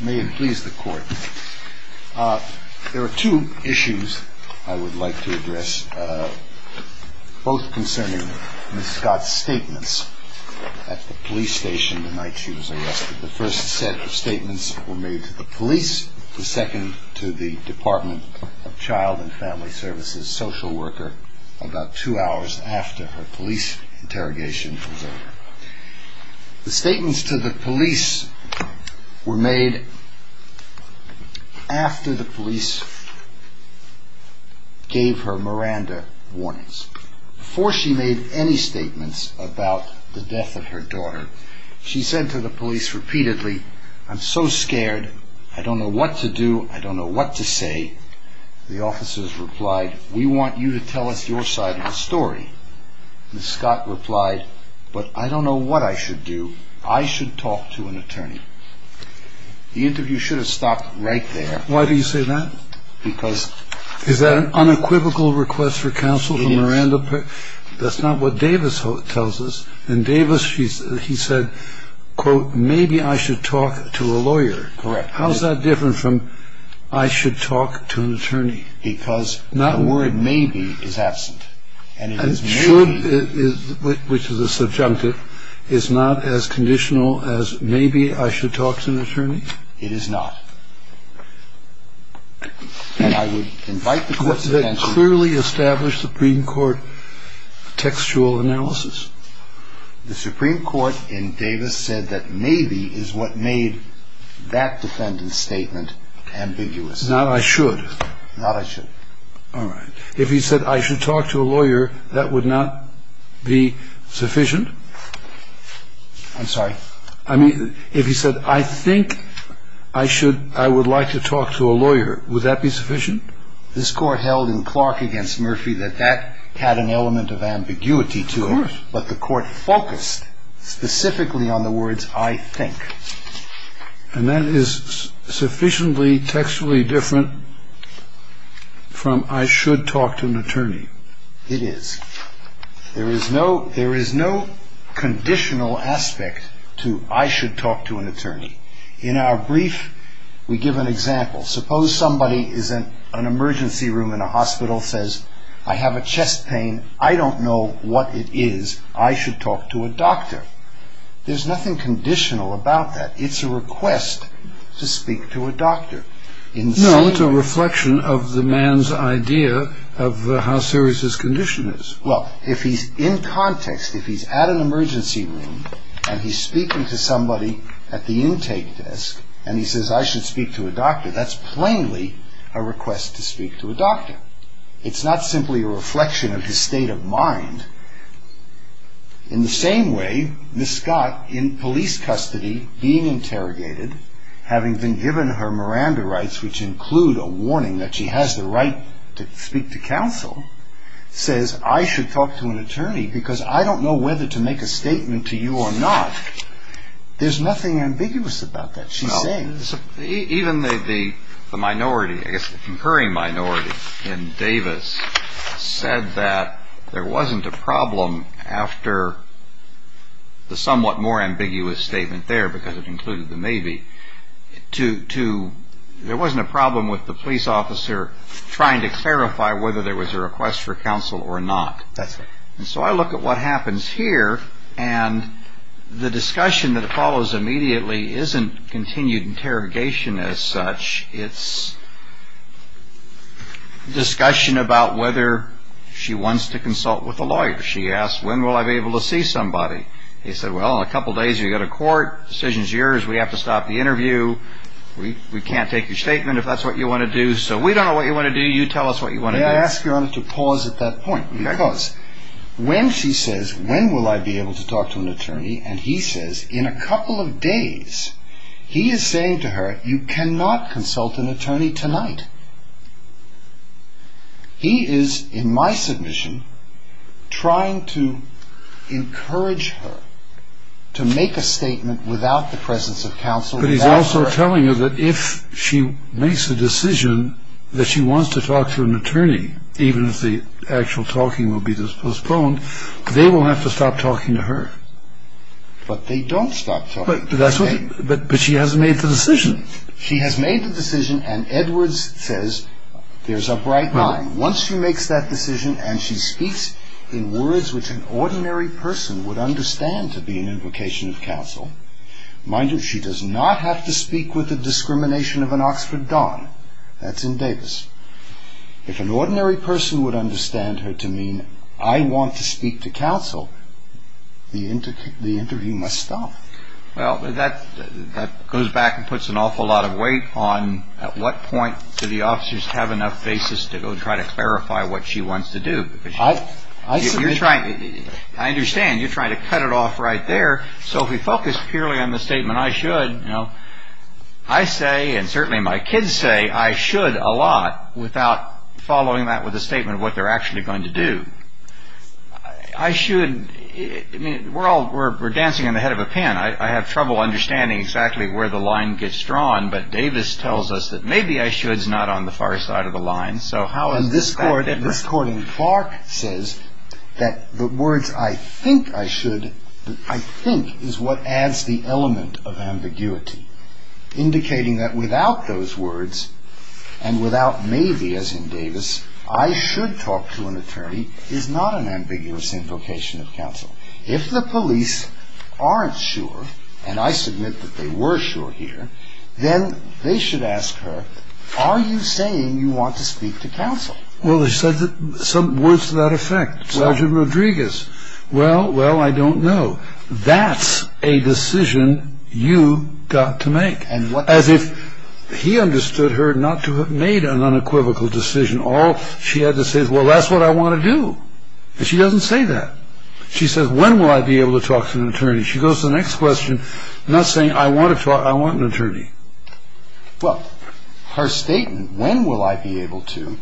May it please the court. There are two issues I would like to address, both concerning Ms. Scott's statements at the police station the night she was arrested. The first set of statements were made to the police, the second to the Department of Child and Family Services social worker about two hours after her police interrogation was over. The statements to the police were made after the police gave her Miranda warnings. Before she made any statements about the death of her daughter, she said to the police repeatedly, I'm so scared, I don't know what to do, I don't know what to say. The officers replied, we want you to tell us your side of the story. Ms. Scott replied, but I don't know what I should do, I should talk to an attorney. The interview should have stopped right there. Why do you say that? Because... Is that an unequivocal request for counsel from Miranda? Yes. That's not what Davis tells us. And Davis, he said, quote, maybe I should talk to a lawyer. Correct. How is that different from I should talk to an attorney? Because the word maybe is absent. And should, which is a subjunctive, is not as conditional as maybe I should talk to an attorney? It is not. And I would invite the court's attention... Does that clearly establish the Supreme Court textual analysis? The Supreme Court in Davis said that maybe is what made that defendant's statement ambiguous. Not I should. Not I should. All right. If he said I should talk to a lawyer, that would not be sufficient? I'm sorry? I mean, if he said I think I should, I would like to talk to a lawyer, would that be sufficient? This court held in Clark against Murphy that that had an element of ambiguity to it. Of course. But the court focused specifically on the words I think. And that is sufficiently textually different from I should talk to an attorney. It is. There is no conditional aspect to I should talk to an attorney. In our brief, we give an example. Suppose somebody is in an emergency room in a hospital, says, I have a chest pain. I don't know what it is. I should talk to a doctor. There's nothing conditional about that. It's a request to speak to a doctor. No, it's a reflection of the man's idea of how serious his condition is. Well, if he's in context, if he's at an emergency room and he's speaking to somebody at the intake desk, and he says I should speak to a doctor, that's plainly a request to speak to a doctor. It's not simply a reflection of his state of mind. In the same way, Miss Scott, in police custody, being interrogated, having been given her Miranda rights, which include a warning that she has the right to speak to counsel, says I should talk to an attorney because I don't know whether to make a statement to you or not. There's nothing ambiguous about that. Even the minority, I guess the concurring minority in Davis, said that there wasn't a problem after the somewhat more ambiguous statement there, because it included the maybe, there wasn't a problem with the police officer trying to clarify whether there was a request for counsel or not. And so I look at what happens here, and the discussion that follows immediately isn't continued interrogation as such. It's discussion about whether she wants to consult with a lawyer. She asks, when will I be able to see somebody? He said, well, in a couple of days you go to court. The decision is yours. We have to stop the interview. We can't take your statement if that's what you want to do. So we don't know what you want to do. You tell us what you want to do. I ask Your Honor to pause at that point, because when she says, when will I be able to talk to an attorney, and he says, in a couple of days, he is saying to her, you cannot consult an attorney tonight. He is, in my submission, trying to encourage her to make a statement without the presence of counsel. But he's also telling her that if she makes a decision that she wants to talk to an attorney, even if the actual talking will be postponed, they will have to stop talking to her. But they don't stop talking. But she hasn't made the decision. She has made the decision, and Edwards says, there's a bright line. Once she makes that decision and she speaks in words Mind you, she does not have to speak with the discrimination of an Oxford Don. That's in Davis. If an ordinary person would understand her to mean, I want to speak to counsel, the interview must stop. Well, that goes back and puts an awful lot of weight on at what point do the officers have enough basis to go try to clarify what she wants to do. I understand you're trying to cut it off right there. So if we focus purely on the statement, I should, I say, and certainly my kids say, I should a lot without following that with a statement of what they're actually going to do. I should, I mean, we're all, we're dancing on the head of a pin. I have trouble understanding exactly where the line gets drawn, but Davis tells us that maybe I should's not on the far side of the line. And this court in Clark says that the words I think I should, I think is what adds the element of ambiguity, indicating that without those words and without maybe, as in Davis, I should talk to an attorney is not an ambiguous invocation of counsel. If the police aren't sure, and I submit that they were sure here, then they should ask her, are you saying you want to speak to counsel? Well, they said that some words to that effect, Sergeant Rodriguez. Well, well, I don't know. That's a decision you got to make. As if he understood her not to have made an unequivocal decision. All she had to say is, well, that's what I want to do. And she doesn't say that. She says, when will I be able to talk to an attorney? She goes to the next question, not saying, I want to talk, I want an attorney. Well, her statement, when will I be able to,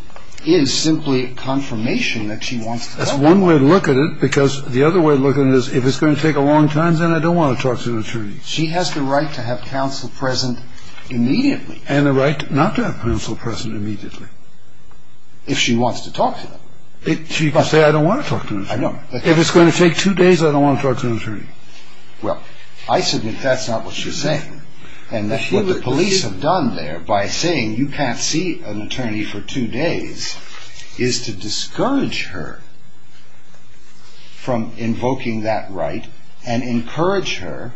is simply a confirmation that she wants to talk to an attorney. That's one way to look at it, because the other way to look at it is, if it's going to take a long time, then I don't want to talk to an attorney. She has the right to have counsel present immediately. And the right not to have counsel present immediately. If she wants to talk to them. She can say, I don't want to talk to an attorney. If it's going to take two days, I don't want to talk to an attorney. Well, I submit that's not what she's saying. And what the police have done there by saying you can't see an attorney for two days is to discourage her from invoking that right and encourage her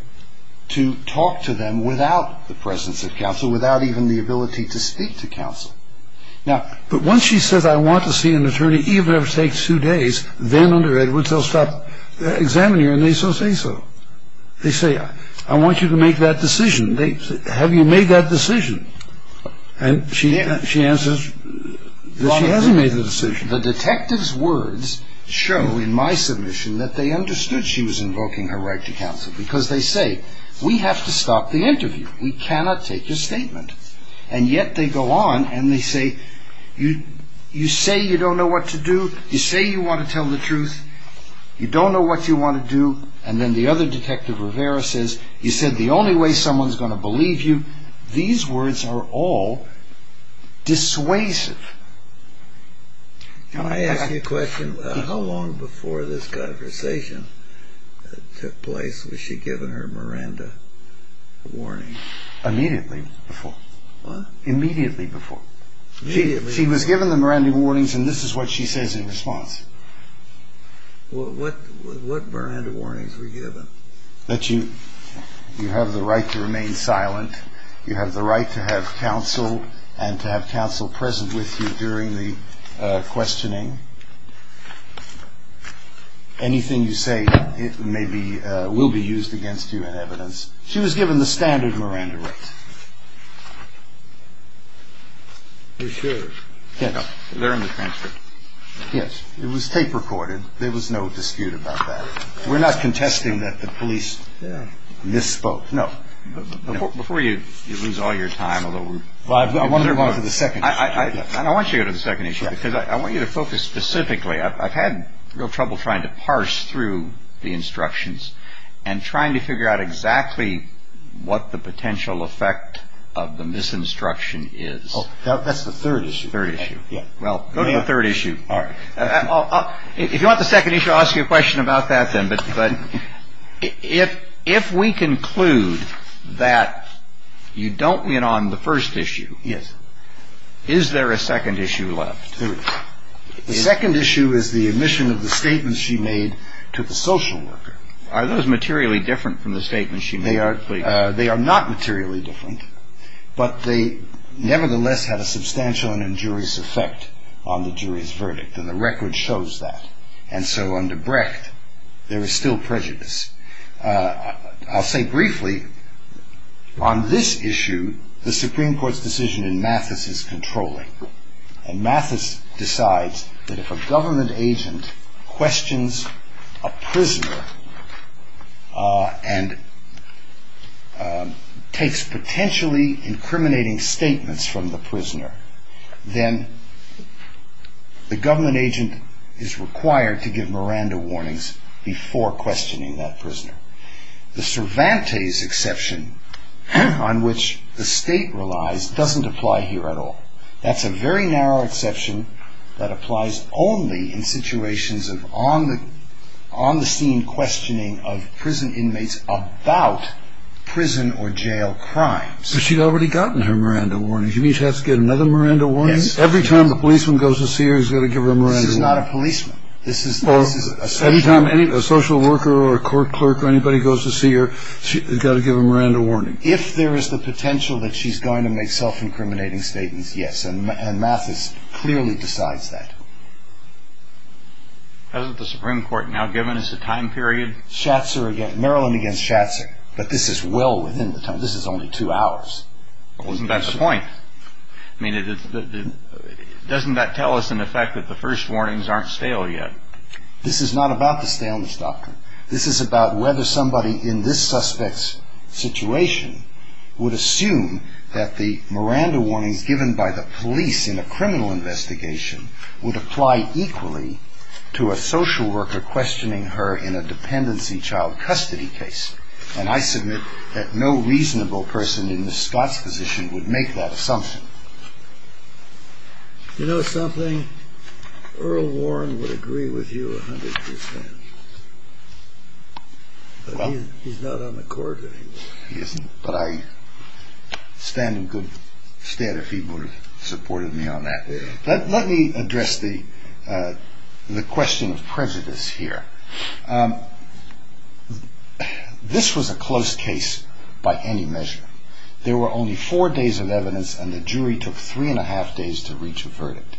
to talk to them without the presence of counsel, without even the ability to speak to counsel. But once she says I want to see an attorney, even if it takes two days, then under Edwards they'll stop examining her and they still say so. They say, I want you to make that decision. Have you made that decision? And she answers that she hasn't made the decision. The detective's words show in my submission that they understood she was invoking her right to counsel because they say, we have to stop the interview. We cannot take a statement. And yet they go on and they say, you say you don't know what to do. You say you want to tell the truth. You don't know what you want to do. And then the other detective, Rivera, says, you said the only way someone's going to believe you, these words are all dissuasive. Can I ask you a question? How long before this conversation took place was she given her Miranda warning? Immediately before. Immediately before. She was given the Miranda warnings and this is what she says in response. What Miranda warnings were given? That you have the right to remain silent. You have the right to have counsel and to have counsel present with you during the questioning. Anything you say, it may be, will be used against you in evidence. She was given the standard Miranda rights. You're sure? Yes. They're in the transcript. Yes. It was tape recorded. There was no dispute about that. We're not contesting that the police misspoke. No. Before you lose all your time, although we're going to move on to the second issue. I want you to go to the second issue because I want you to focus specifically. I've had real trouble trying to parse through the instructions and trying to figure out exactly what the potential effect of the misinstruction is. That's the third issue. Third issue. Well, go to the third issue. All right. If you want the second issue, I'll ask you a question about that then. But if we conclude that you don't win on the first issue. Yes. Is there a second issue left? There is. The second issue is the admission of the statements she made to the social worker. Are those materially different from the statements she made? They are not materially different, but they nevertheless have a substantial and injurious effect on the jury's verdict. And the record shows that. And so under Brecht, there is still prejudice. I'll say briefly, on this issue, the Supreme Court's decision in Mathis is controlling. And Mathis decides that if a government agent questions a prisoner and takes potentially incriminating statements from the prisoner, then the government agent is required to give Miranda warnings before questioning that prisoner. The Cervantes exception on which the state relies doesn't apply here at all. That's a very narrow exception that applies only in situations of on-the-scene questioning of prison inmates about prison or jail crimes. But she'd already gotten her Miranda warnings. You mean she has to get another Miranda warning? Yes. Every time the policeman goes to see her, he's got to give her a Miranda warning? She's not a policeman. This is a social worker. Any time a social worker or a court clerk or anybody goes to see her, she's got to give a Miranda warning? If there is the potential that she's going to make self-incriminating statements, yes. And Mathis clearly decides that. Hasn't the Supreme Court now given us a time period? Maryland against Schatzer. But this is well within the time. This is only two hours. Well, isn't that the point? I mean, doesn't that tell us, in effect, that the first warnings aren't stale yet? This is not about the staleness doctrine. This is about whether somebody in this suspect's situation would assume that the Miranda warnings given by the police in a criminal investigation would apply equally to a social worker questioning her in a dependency child custody case. And I submit that no reasonable person in Ms. Scott's position would make that assumption. You know something? Earl Warren would agree with you 100 percent. But he's not on the court anymore. He isn't. But I stand in good stead if he would have supported me on that. Let me address the question of prejudice here. This was a close case by any measure. There were only four days of evidence, and the jury took three and a half days to reach a verdict.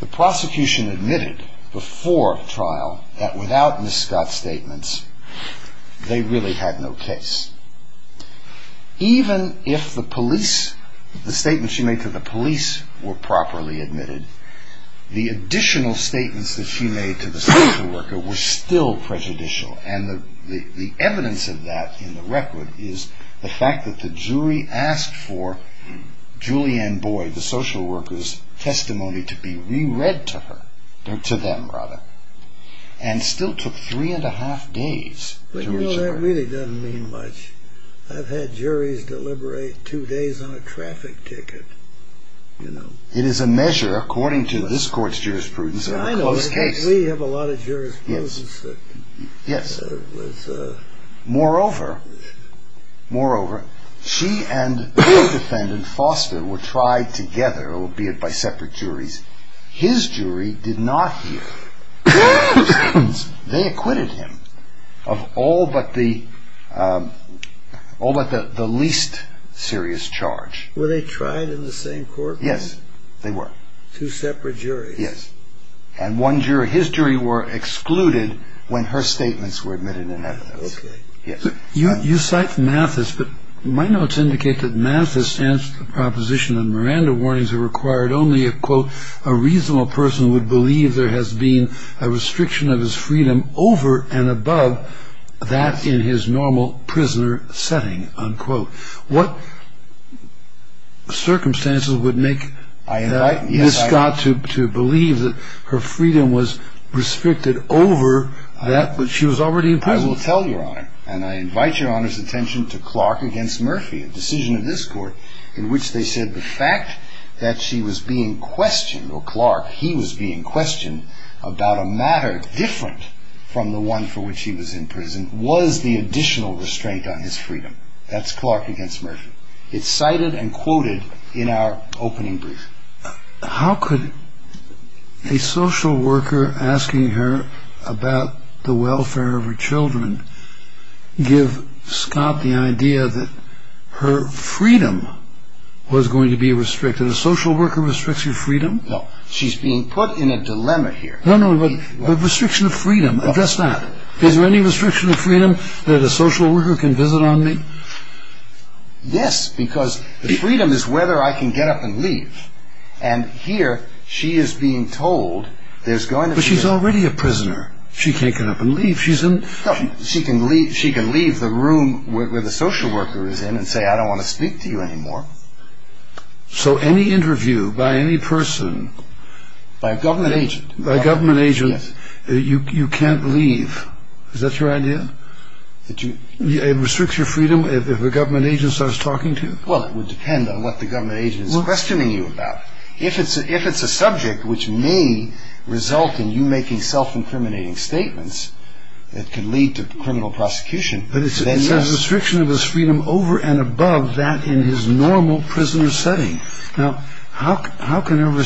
The prosecution admitted before trial that without Ms. Scott's statements, they really had no case. Even if the police, the statements she made to the police were properly admitted, the additional statements that she made to the social worker were still prejudicial. And the evidence of that in the record is the fact that the jury asked for Julianne Boyd, the social worker's testimony, to be re-read to her. To them, rather. And still took three and a half days to reach a verdict. You know, that really doesn't mean much. I've had juries deliberate two days on a traffic ticket, you know. It is a measure, according to this court's jurisprudence, of a close case. We have a lot of jurisprudence. Moreover, she and her defendant, Foster, were tried together, albeit by separate juries. His jury did not hear. They acquitted him of all but the least serious charge. Were they tried in the same court? Yes, they were. Two separate juries. Yes. And his jury were excluded when her statements were admitted in evidence. Okay. Yes. You cite Mathis, but my notes indicate that Mathis stands to the proposition that Miranda warnings are required only if, quote, a reasonable person would believe there has been a restriction of his freedom over and above that in his normal prisoner setting, unquote. What circumstances would make Ms. Scott to believe that her freedom was restricted over that when she was already in prison? I will tell Your Honor, and I invite Your Honor's attention to Clark v. Murphy, a decision of this court, in which they said the fact that she was being questioned, or Clark, he was being questioned, about a matter different from the one for which he was in prison was the additional restraint on his freedom. That's Clark v. Murphy. It's cited and quoted in our opening brief. How could a social worker asking her about the welfare of her children give Scott the idea that her freedom was going to be restricted? A social worker restricts your freedom? No. She's being put in a dilemma here. No, no. Restriction of freedom. Just that. Is there any restriction of freedom that a social worker can visit on me? Yes, because the freedom is whether I can get up and leave. And here she is being told there's going to be a... But she's already a prisoner. She can't get up and leave. She's in... No, she can leave the room where the social worker is in and say, I don't want to speak to you anymore. So any interview by any person... By a government agent. By a government agent, you can't leave. Is that your idea? It restricts your freedom if a government agent starts talking to you? Well, it would depend on what the government agent is questioning you about. If it's a subject which may result in you making self-incriminating statements that can lead to criminal prosecution, then yes. But there's a restriction of his freedom over and above that in his normal prisoner setting. Now, how can her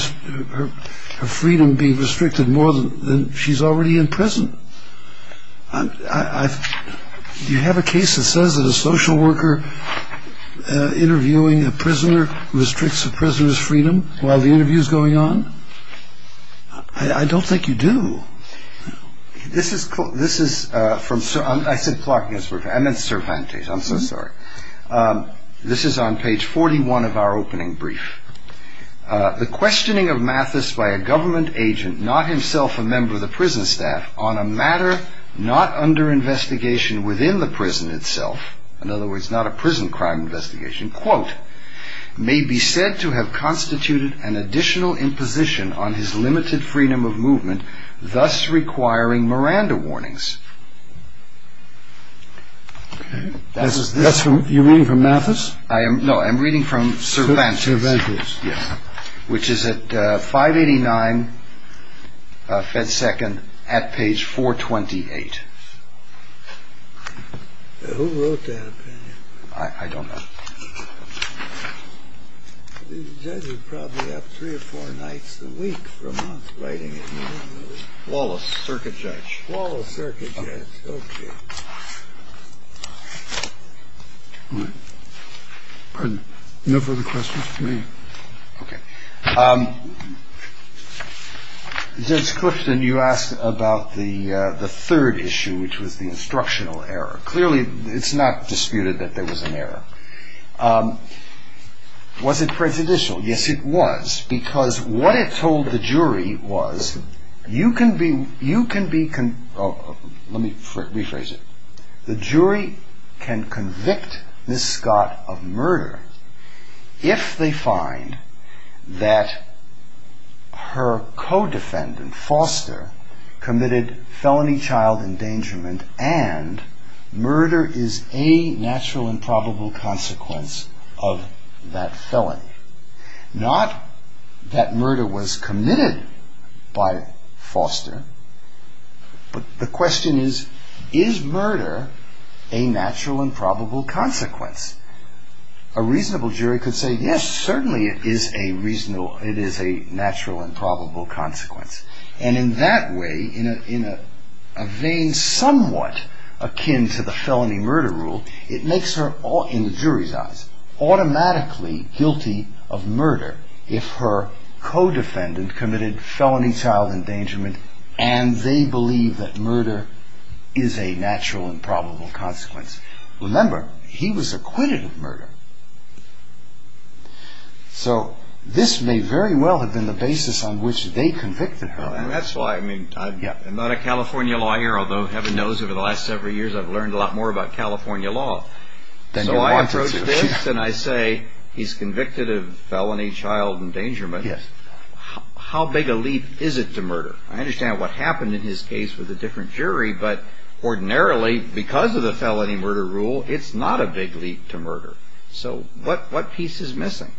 freedom be restricted more than she's already in prison? Do you have a case that says that a social worker interviewing a prisoner restricts a prisoner's freedom while the interview is going on? I don't think you do. This is from... I said Clark. I meant Cervantes. I'm so sorry. This is on page 41 of our opening brief. The questioning of Mathis by a government agent, not himself a member of the prison staff, on a matter not under investigation within the prison itself, in other words, not a prison crime investigation, quote, may be said to have constituted an additional imposition on his limited freedom of movement, thus requiring Miranda warnings. That's from... You're reading from Mathis? No, I'm reading from Cervantes. Cervantes. Yes. Which is at 589 Fed Second at page 428. Who wrote that opinion? I don't know. These judges probably have three or four nights a week for a month writing it. Wallace, circuit judge. Wallace, circuit judge. Okay. Pardon? No further questions, please. Okay. Judge Clipton, you asked about the third issue, which was the instructional error. Clearly, it's not disputed that there was an error. Was it prejudicial? Yes, it was. Because what it told the jury was you can be... Let me rephrase it. The jury can convict Ms. Scott of murder if they find that her co-defendant, Foster, committed felony child endangerment and murder is a natural and probable consequence of that felony. Not that murder was committed by Foster, but the question is, is murder a natural and probable consequence? A reasonable jury could say, yes, certainly it is a natural and probable consequence. And in that way, in a vein somewhat akin to the felony murder rule, it makes her, in the jury's eyes, automatically guilty of murder if her co-defendant committed felony child endangerment and they believe that murder is a natural and probable consequence. Remember, he was acquitted of murder. So this may very well have been the basis on which they convicted her. I'm not a California lawyer, although heaven knows over the last several years I've learned a lot more about California law. So I approach this and I say he's convicted of felony child endangerment. How big a leap is it to murder? I understand what happened in his case with a different jury, but ordinarily, because of the felony murder rule, it's not a big leap to murder. So what piece is missing?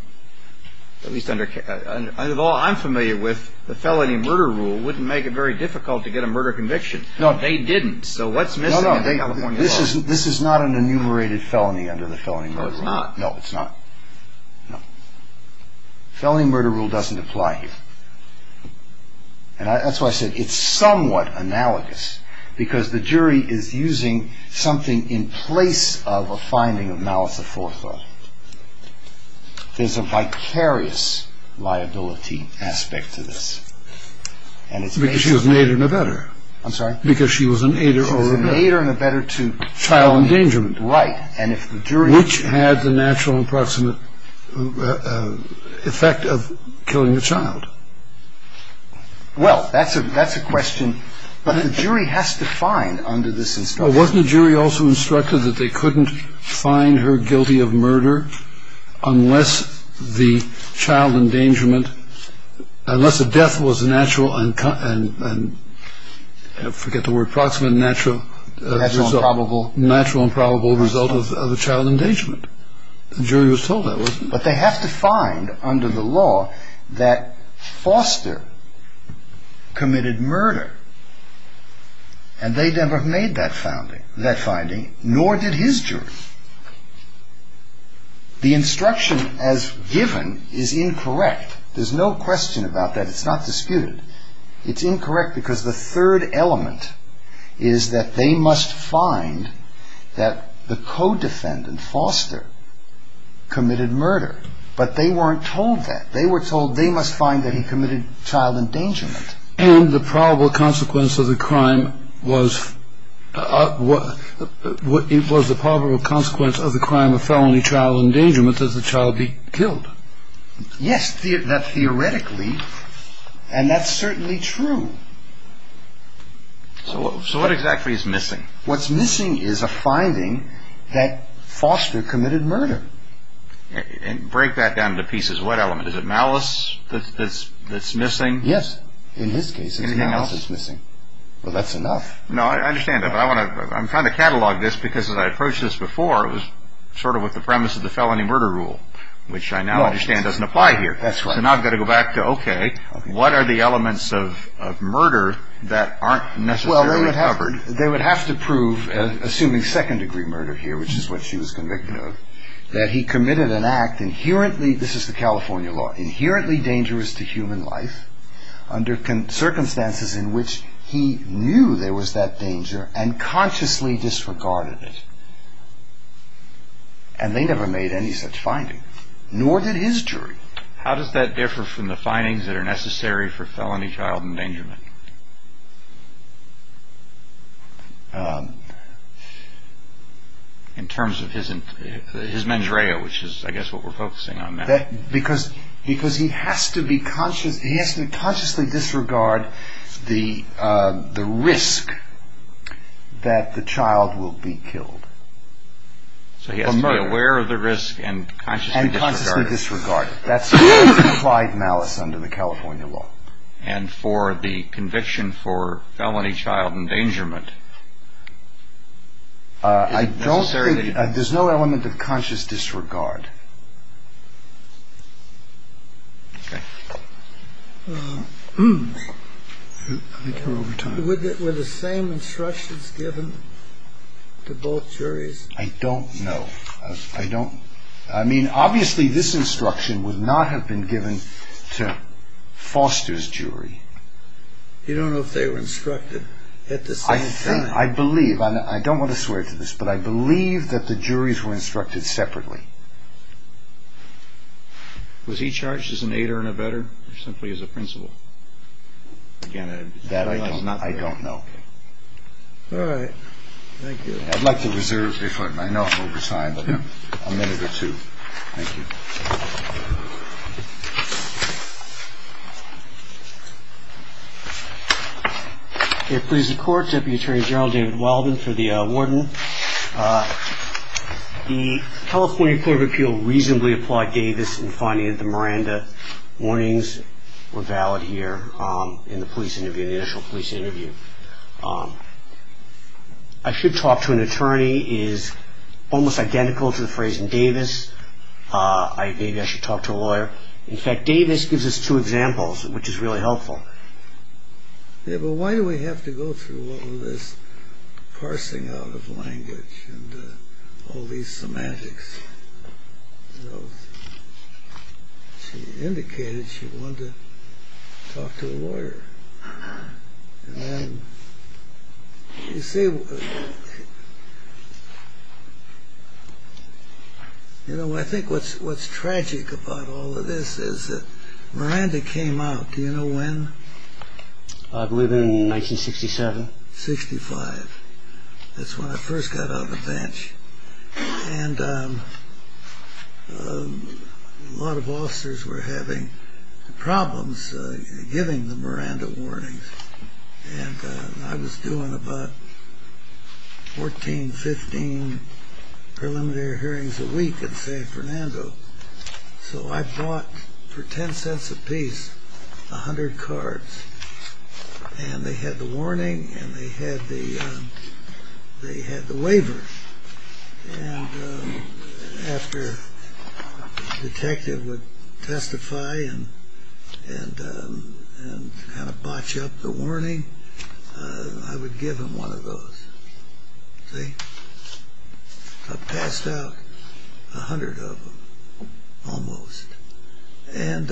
Well, I'm familiar with the felony murder rule wouldn't make it very difficult to get a murder conviction. No, they didn't. So what's missing? This is not an enumerated felony under the felony murder rule. No, it's not. Felony murder rule doesn't apply here. And that's why I said it's somewhat analogous, because the jury is using something in place of a finding of malice of forethought. There's a vicarious liability aspect to this. Because she was an aider and abetter. I'm sorry? Because she was an aider or abetter. She was an aider and abetter to felony. Child endangerment. Right. Which had the natural and approximate effect of killing a child. Well, that's a question that the jury has to find under this instruction. Well, wasn't the jury also instructed that they couldn't find her guilty of murder unless the child endangerment, unless the death was a natural and, forget the word, approximate, natural. Natural and probable. Natural and probable result of the child endangerment. The jury was told that, wasn't it? But they have to find under the law that Foster committed murder. And they never made that finding, nor did his jury. The instruction as given is incorrect. There's no question about that. It's not disputed. It's incorrect because the third element is that they must find that the co-defendant, Foster, committed murder. But they weren't told that. They were told they must find that he committed child endangerment. And the probable consequence of the crime was the probable consequence of the crime of felony child endangerment that the child be killed. Yes, that's theoretically. And that's certainly true. So what exactly is missing? What's missing is a finding that Foster committed murder. And break that down into pieces. What element? Is it malice that's missing? Yes. In his case, it's malice that's missing. Anything else? Well, that's enough. No, I understand that. But I'm trying to catalog this because as I approached this before, it was sort of with the premise of the felony murder rule, which I now understand doesn't apply here. That's right. So now I've got to go back to, okay, what are the elements of murder that aren't necessarily recovered? Well, they would have to prove, assuming second-degree murder here, which is what she was convicted of, that he committed an act inherently, this is the California law, inherently dangerous to human life, under circumstances in which he knew there was that danger and consciously disregarded it. And they never made any such finding. Nor did his jury. How does that differ from the findings that are necessary for felony child endangerment? In terms of his mens rea, which is, I guess, what we're focusing on now. Because he has to be conscious, he has to consciously disregard the risk that the child will be killed. So he has to be aware of the risk and consciously disregard it. And consciously disregard it. That's implied malice under the California law. And for the conviction for felony child endangerment, there's no element of conscious disregard. Okay. Were the same instructions given to both juries? I don't know. I mean, obviously this instruction would not have been given to Foster's jury. You don't know if they were instructed at the same time? I think, I believe, I don't want to swear to this, but I believe that the juries were instructed separately. Was he charged as an aider and abetter or simply as a principal? That I don't know. All right. Thank you. I'd like to reserve, I know I'm oversigned, but a minute or two. Thank you. It please the court, Deputy Attorney General David Wilden for the warden. The California Court of Appeal reasonably applaud Davis in finding that the Miranda warnings were valid here in the police interview, in the initial police interview. I should talk to an attorney is almost identical to the phrase in Davis. Maybe I should talk to a lawyer. In fact, Davis gives us two examples, which is really helpful. Yeah, but why do we have to go through all this parsing out of language and all these semantics? She indicated she wanted to talk to a lawyer. You know, I think what's tragic about all of this is that Miranda came out, do you know when? I believe in 1967. That's when I first got on the bench. And a lot of officers were having problems giving the Miranda warnings. And I was doing about 14, 15 preliminary hearings a week in San Fernando. So I bought for 10 cents a piece, 100 cards. And they had the warning and they had the, they had the waiver. And after the detective would testify and kind of botch up the warning, I would give him one of those. I passed out a hundred of them, almost. And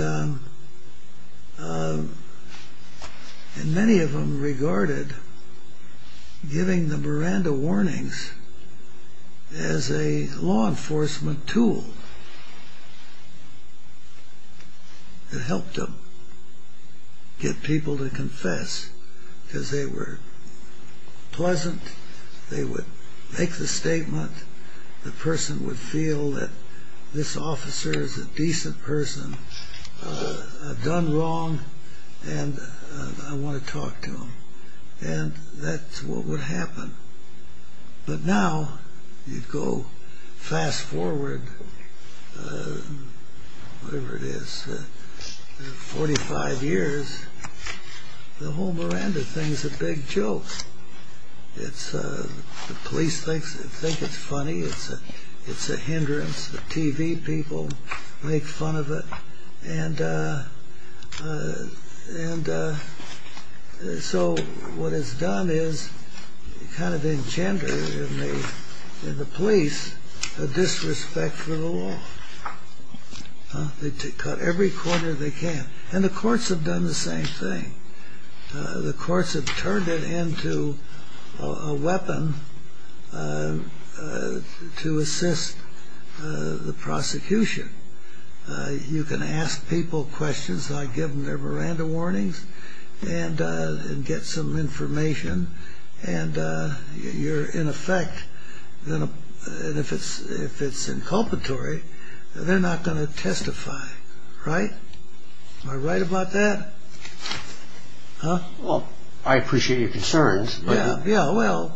many of them regarded giving the Miranda warnings as a law enforcement tool. It helped them get people to confess because they were pleasant. They would make the statement. The person would feel that this officer is a decent person. I've done wrong and I want to talk to him. And that's what would happen. But now you go fast forward, whatever it is, 45 years. The whole Miranda thing is a big joke. The police thinks it's funny. It's a hindrance. The TV people make fun of it. And so what it's done is kind of engender in the police a disrespect for the law. They cut every quarter they can. And the courts have done the same thing. The courts have turned it into a weapon to assist the prosecution. You can ask people questions. I give them their Miranda warnings and get some information. And you're in effect. And if it's inculpatory, they're not going to testify. Right? Am I right about that? Well, I appreciate your concerns. Yeah. Well,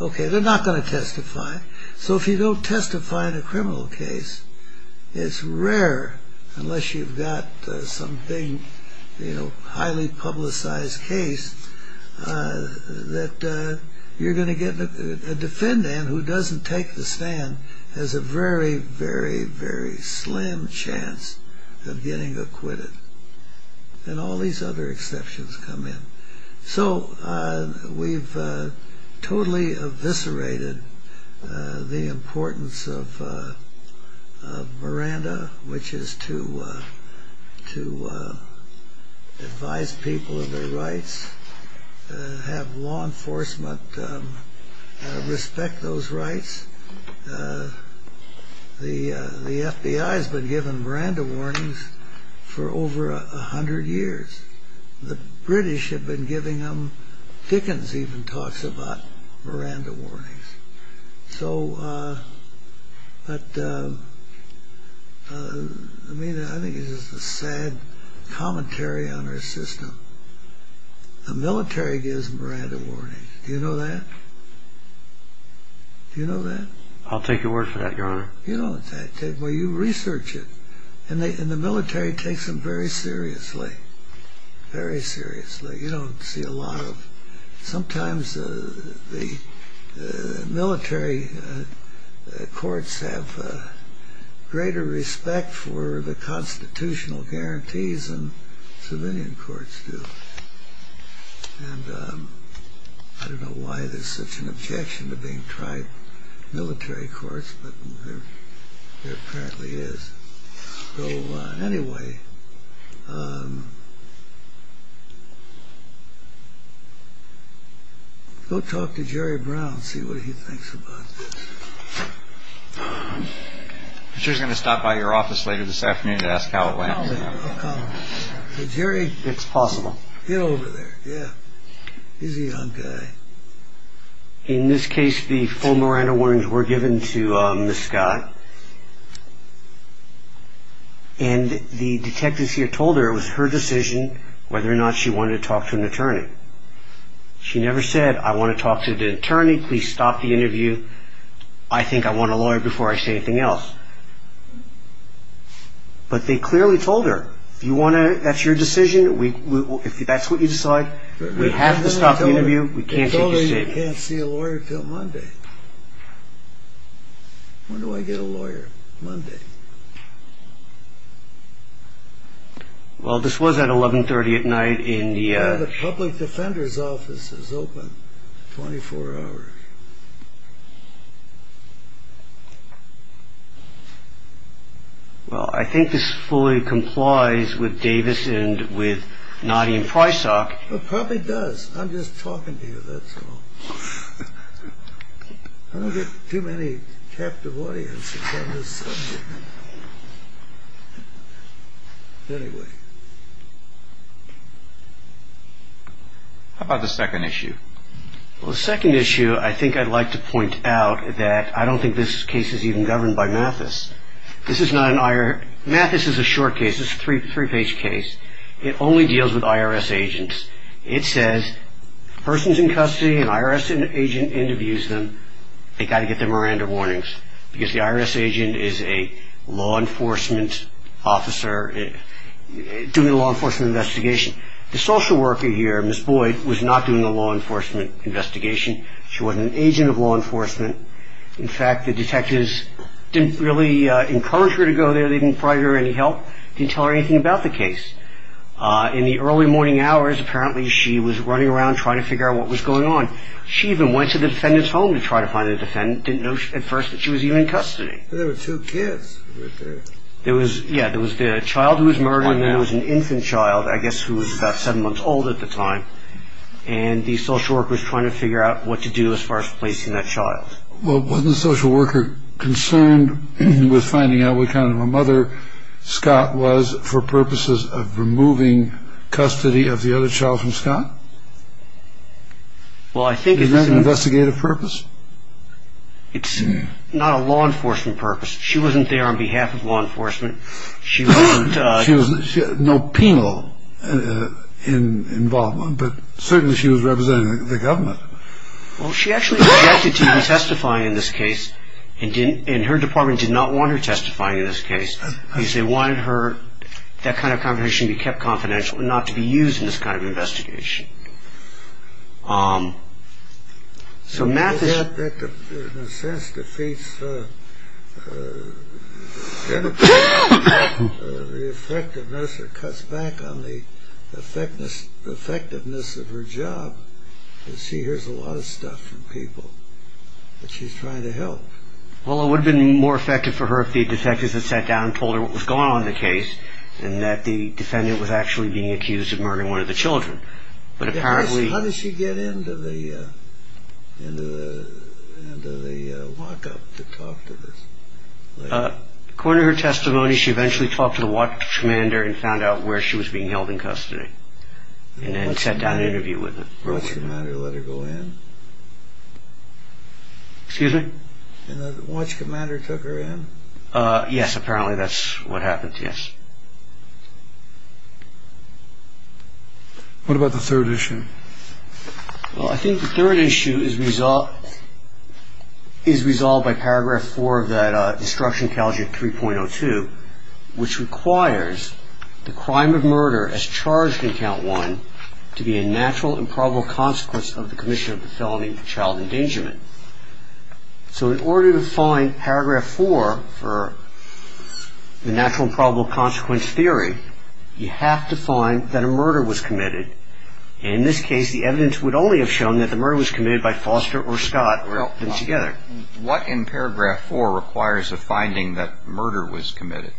OK. They're not going to testify. So if you don't testify in a criminal case, it's rare unless you've got some big, highly publicized case, that you're going to get a defendant who doesn't take the stand has a very, very, very slim chance of getting acquitted. And all these other exceptions come in. So we've totally eviscerated the importance of Miranda, which is to advise people of their rights, have law enforcement respect those rights. The FBI has been giving Miranda warnings for over 100 years. The British have been giving them. Dickens even talks about Miranda warnings. So, but, I mean, I think it's just a sad commentary on our system. The military gives Miranda warnings. Do you know that? Do you know that? I'll take your word for that, Your Honor. Well, you research it. And the military takes them very seriously, very seriously. You don't see a lot of, sometimes the military courts have greater respect for the constitutional guarantees than civilian courts do. And I don't know why there's such an objection to being tribe military courts, but there apparently is. So, anyway, go talk to Jerry Brown and see what he thinks about this. I'm sure he's going to stop by your office later this afternoon to ask how it went. I'll call him. So, Jerry. It's possible. Get over there. Yeah. He's a young guy. In this case, the full Miranda warnings were given to Ms. Scott. And the detectives here told her it was her decision whether or not she wanted to talk to an attorney. She never said, I want to talk to the attorney. Please stop the interview. I think I want a lawyer before I say anything else. But they clearly told her, if that's your decision, if that's what you decide, we have to stop the interview. They told her you can't see a lawyer until Monday. When do I get a lawyer? Monday. Well, this was at 1130 at night. The public defender's office is open 24 hours. Well, I think this fully complies with Davis and with Noddy and Prysock. It probably does. I'm just talking to you, that's all. I don't get too many captive audiences on this subject. Anyway. How about the second issue? Well, the second issue I think I'd like to point out that I don't think this case is even governed by Mathis. Mathis is a short case. It's a three-page case. It only deals with IRS agents. It says a person's in custody, an IRS agent interviews them, they've got to get their Miranda warnings, because the IRS agent is a law enforcement officer doing a law enforcement investigation. The social worker here, Miss Boyd, was not doing a law enforcement investigation. She wasn't an agent of law enforcement. In fact, the detectives didn't really encourage her to go there. They didn't provide her any help. They didn't tell her anything about the case. In the early morning hours, apparently she was running around trying to figure out what was going on. She even went to the defendant's home to try to find the defendant, didn't know at first that she was even in custody. There were two kids. There was, yeah, there was the child who was murdered and there was an infant child, I guess, who was about seven months old at the time, and the social worker was trying to figure out what to do as far as placing that child. Well, wasn't the social worker concerned with finding out what kind of a mother Scott was for purposes of removing custody of the other child from Scott? Well, I think... Was that an investigative purpose? It's not a law enforcement purpose. She wasn't there on behalf of law enforcement. She wasn't... She had no penal involvement, but certainly she was representing the government. Well, she actually objected to be testifying in this case and her department did not want her testifying in this case. They wanted that kind of conversation to be kept confidential and not to be used in this kind of investigation. So Matt... In a sense, defeats the effectiveness or cuts back on the effectiveness of her job. You see, here's a lot of stuff from people that she's trying to help. Well, it would have been more effective for her if the detectives had sat down and told her what was going on in the case and that the defendant was actually being accused of murdering one of the children. But apparently... How did she get into the walk-up to talk to this lady? According to her testimony, she eventually talked to the watch commander and found out where she was being held in custody and then sat down and interviewed with him. And the watch commander let her go in? Excuse me? And the watch commander took her in? Yes, apparently that's what happened, yes. What about the third issue? Well, I think the third issue is resolved by Paragraph 4 of the Destruction Calendar 3.02, which requires the crime of murder as charged in Count 1 to be a natural and probable consequence of the commission of the felony of child endangerment. So in order to find Paragraph 4 for the natural and probable consequence theory, you have to find that a murder was committed. And in this case, the evidence would only have shown that the murder was committed by Foster or Scott, or them together. What in Paragraph 4 requires a finding that murder was committed?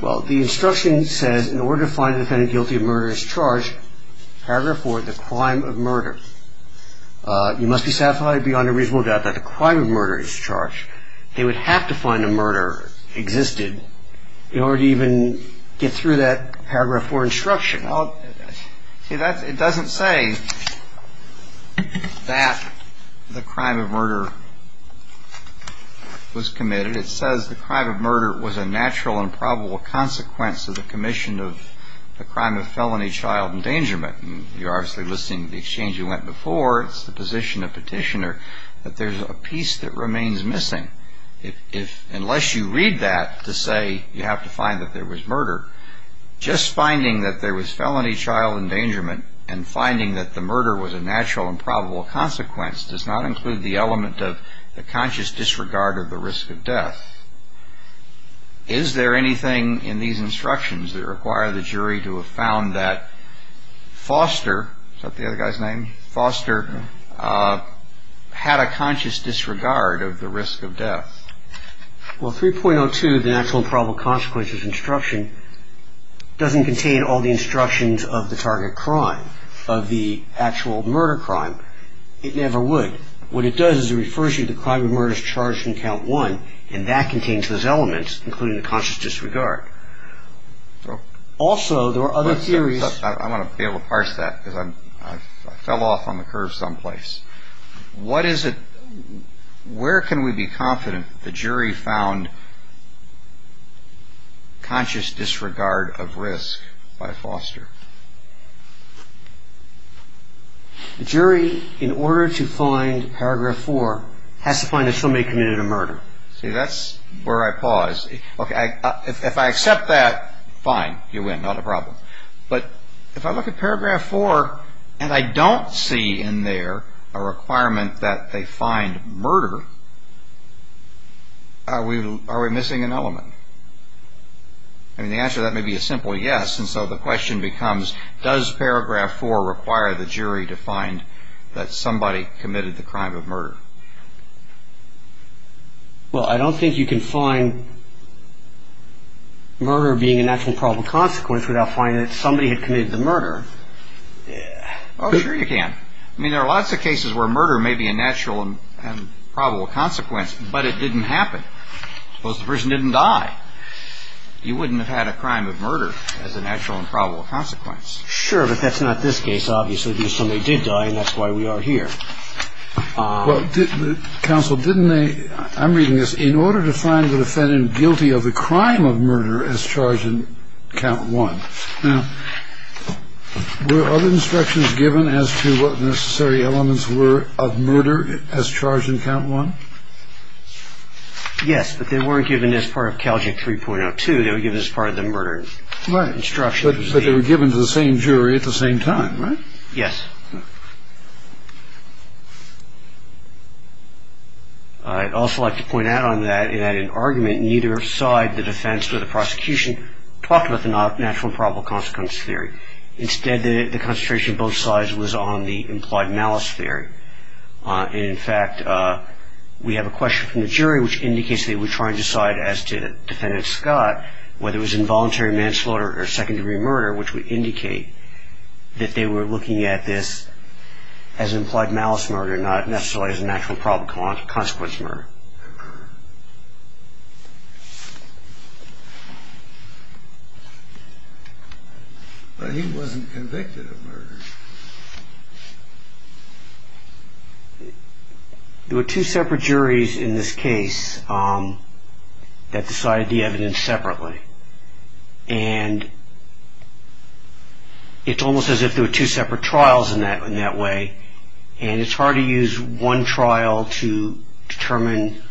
Well, the instruction says in order to find the defendant guilty of murder as charged, Paragraph 4, the crime of murder, you must be satisfied beyond a reasonable doubt that the crime of murder is charged. They would have to find a murder existed in order to even get through that Paragraph 4 instruction. See, it doesn't say that the crime of murder was committed. It says the crime of murder was a natural and probable consequence of the commission of the crime of felony child endangerment. You're obviously listening to the exchange you went before. It's the position of petitioner that there's a piece that remains missing. Unless you read that to say you have to find that there was murder, just finding that there was felony child endangerment and finding that the murder was a natural and probable consequence does not include the element of the conscious disregard of the risk of death. Is there anything in these instructions that require the jury to have found that Foster, is that the other guy's name, Foster, had a conscious disregard of the risk of death? Well, 3.02, the natural and probable consequences instruction, doesn't contain all the instructions of the target crime, of the actual murder crime. It never would. What it does is it refers you to the crime of murder as charged from count one, and that contains those elements, including the conscious disregard. Also, there are other theories. I want to be able to parse that because I fell off on the curve someplace. What is it, where can we be confident that the jury found conscious disregard of risk by Foster? The jury, in order to find paragraph four, has to find that somebody committed a murder. See, that's where I pause. Okay, if I accept that, fine, you win, not a problem. But if I look at paragraph four and I don't see in there a requirement that they find murder, are we missing an element? I mean, the answer to that may be a simple yes, and so the question becomes, does paragraph four require the jury to find that somebody committed the crime of murder? Well, I don't think you can find murder being a natural and probable consequence without finding that somebody had committed the murder. Oh, sure you can. I mean, there are lots of cases where murder may be a natural and probable consequence, but it didn't happen. Suppose the person didn't die. You wouldn't have had a crime of murder as a natural and probable consequence. Sure, but that's not this case, obviously. Somebody did die, and that's why we are here. Well, counsel, didn't they, I'm reading this, in order to find the defendant guilty of the crime of murder as charged in count one, were other instructions given as to what necessary elements were of murder as charged in count one? Yes, but they weren't given as part of CALJIC 3.02. They were given as part of the murder instruction. Right, but they were given to the same jury at the same time, right? Yes. I'd also like to point out on that, in that in argument, neither side, the defense or the prosecution, talked about the natural and probable consequence theory. Instead, the concentration of both sides was on the implied malice theory. In fact, we have a question from the jury, which indicates they were trying to decide as to defendant Scott, whether it was involuntary manslaughter or second-degree murder, which would indicate that they were looking at this as implied malice murder, not necessarily as a natural and probable consequence murder. But he wasn't convicted of murder. There were two separate juries in this case that decided the evidence separately, and it's almost as if there were two separate trials in that way, and it's hard to use one trial to determine,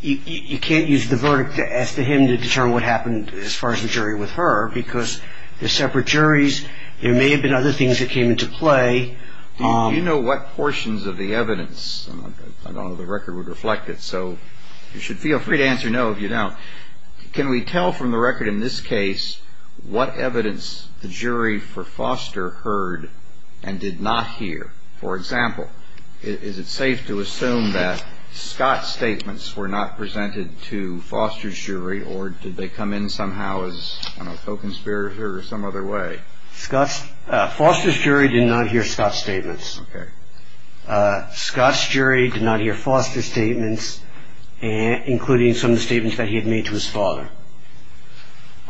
you can't use the verdict as to him to determine what happened as far as the jury with her, because they're separate juries. There may have been other things that came into play. Do you know what portions of the evidence, I don't know if the record would reflect it, so you should feel free to answer no if you don't. Can we tell from the record in this case what evidence the jury for Foster heard and did not hear? For example, is it safe to assume that Scott's statements were not presented to Foster's jury, or did they come in somehow as co-conspirators or some other way? Foster's jury did not hear Scott's statements. Including some of the statements that he had made to his father.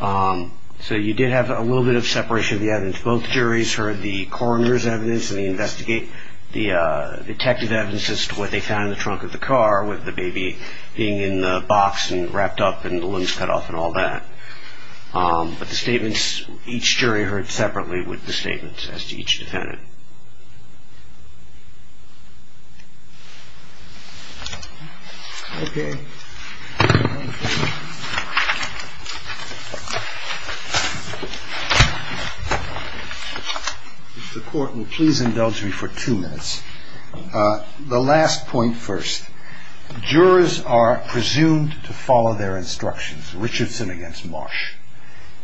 So you did have a little bit of separation of the evidence. Both juries heard the coroner's evidence, and they investigate the detective's evidence as to what they found in the trunk of the car, with the baby being in the box and wrapped up and the limbs cut off and all that. But the statements, each jury heard separately with the statements as to each defendant. The court will please indulge me for two minutes. The last point first. Jurors are presumed to follow their instructions. Richardson against Marsh.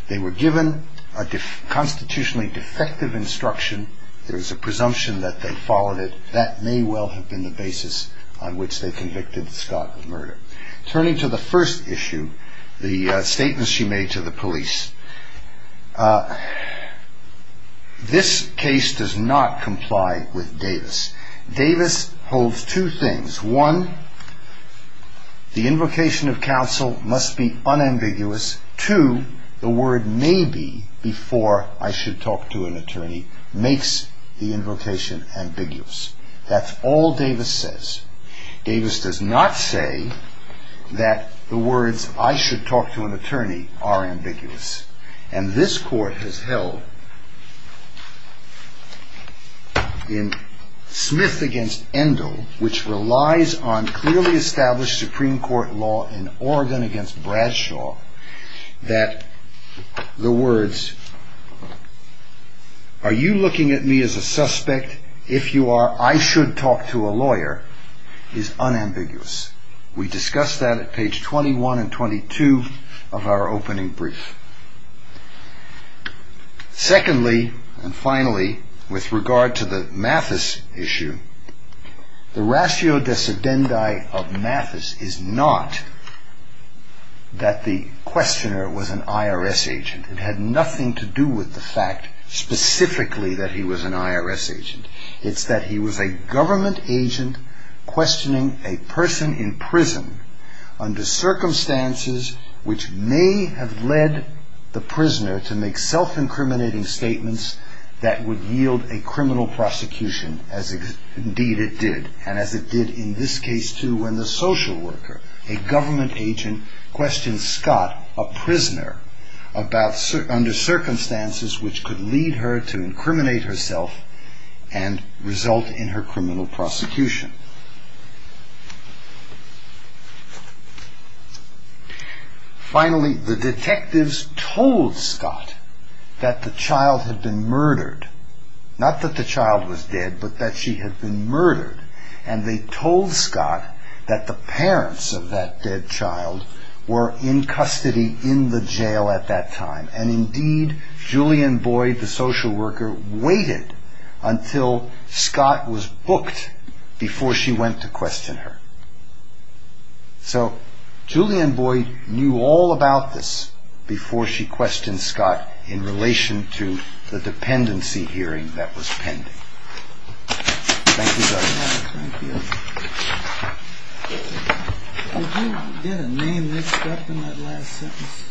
They were given a constitutionally defective instruction. There is a presumption that they followed it. That may well have been the basis on which they convicted Scott of murder. Turning to the first issue, the statements she made to the police. This case does not comply with Davis. Davis holds two things. One, the invocation of counsel must be unambiguous. Two, the word maybe before I should talk to an attorney makes the invocation ambiguous. That's all Davis says. Davis does not say that the words I should talk to an attorney are ambiguous. And this court has held in Smith against Endo, which relies on clearly established Supreme Court law in Oregon against Bradshaw, that the words, are you looking at me as a suspect? If you are, I should talk to a lawyer, is unambiguous. We discussed that at page 21 and 22 of our opening brief. Secondly, and finally, with regard to the Mathis issue, the ratio de sedendi of Mathis is not that the questioner was an IRS agent. It had nothing to do with the fact specifically that he was an IRS agent. It's that he was a government agent questioning a person in prison under circumstances which may have led the prisoner to make self-incriminating statements that would yield a criminal prosecution, as indeed it did. And as it did in this case, too, when the social worker, a government agent, questioned Scott, a prisoner, under circumstances which could lead her to incriminate herself and result in her criminal prosecution. Finally, the detectives told Scott that the child had been murdered. Not that the child was dead, but that she had been murdered. And they told Scott that the parents of that dead child were in custody in the jail at that time. And indeed, Julian Boyd, the social worker, waited until Scott was booked before she went to question her. So Julian Boyd knew all about this before she questioned Scott in relation to the dependency hearing that was pending. Thank you very much. Thank you. Did you get a name that stuck in that last sentence?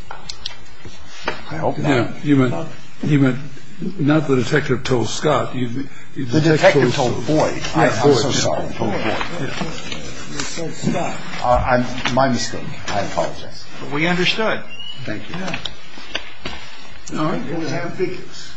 I hope not. Yeah. You meant not the detective told Scott. The detective told Boyd. Yeah, Boyd. I'm so sorry. They said Scott. My mistake. I apologize. But we understood. Thank you. Yeah. All right. We have figures.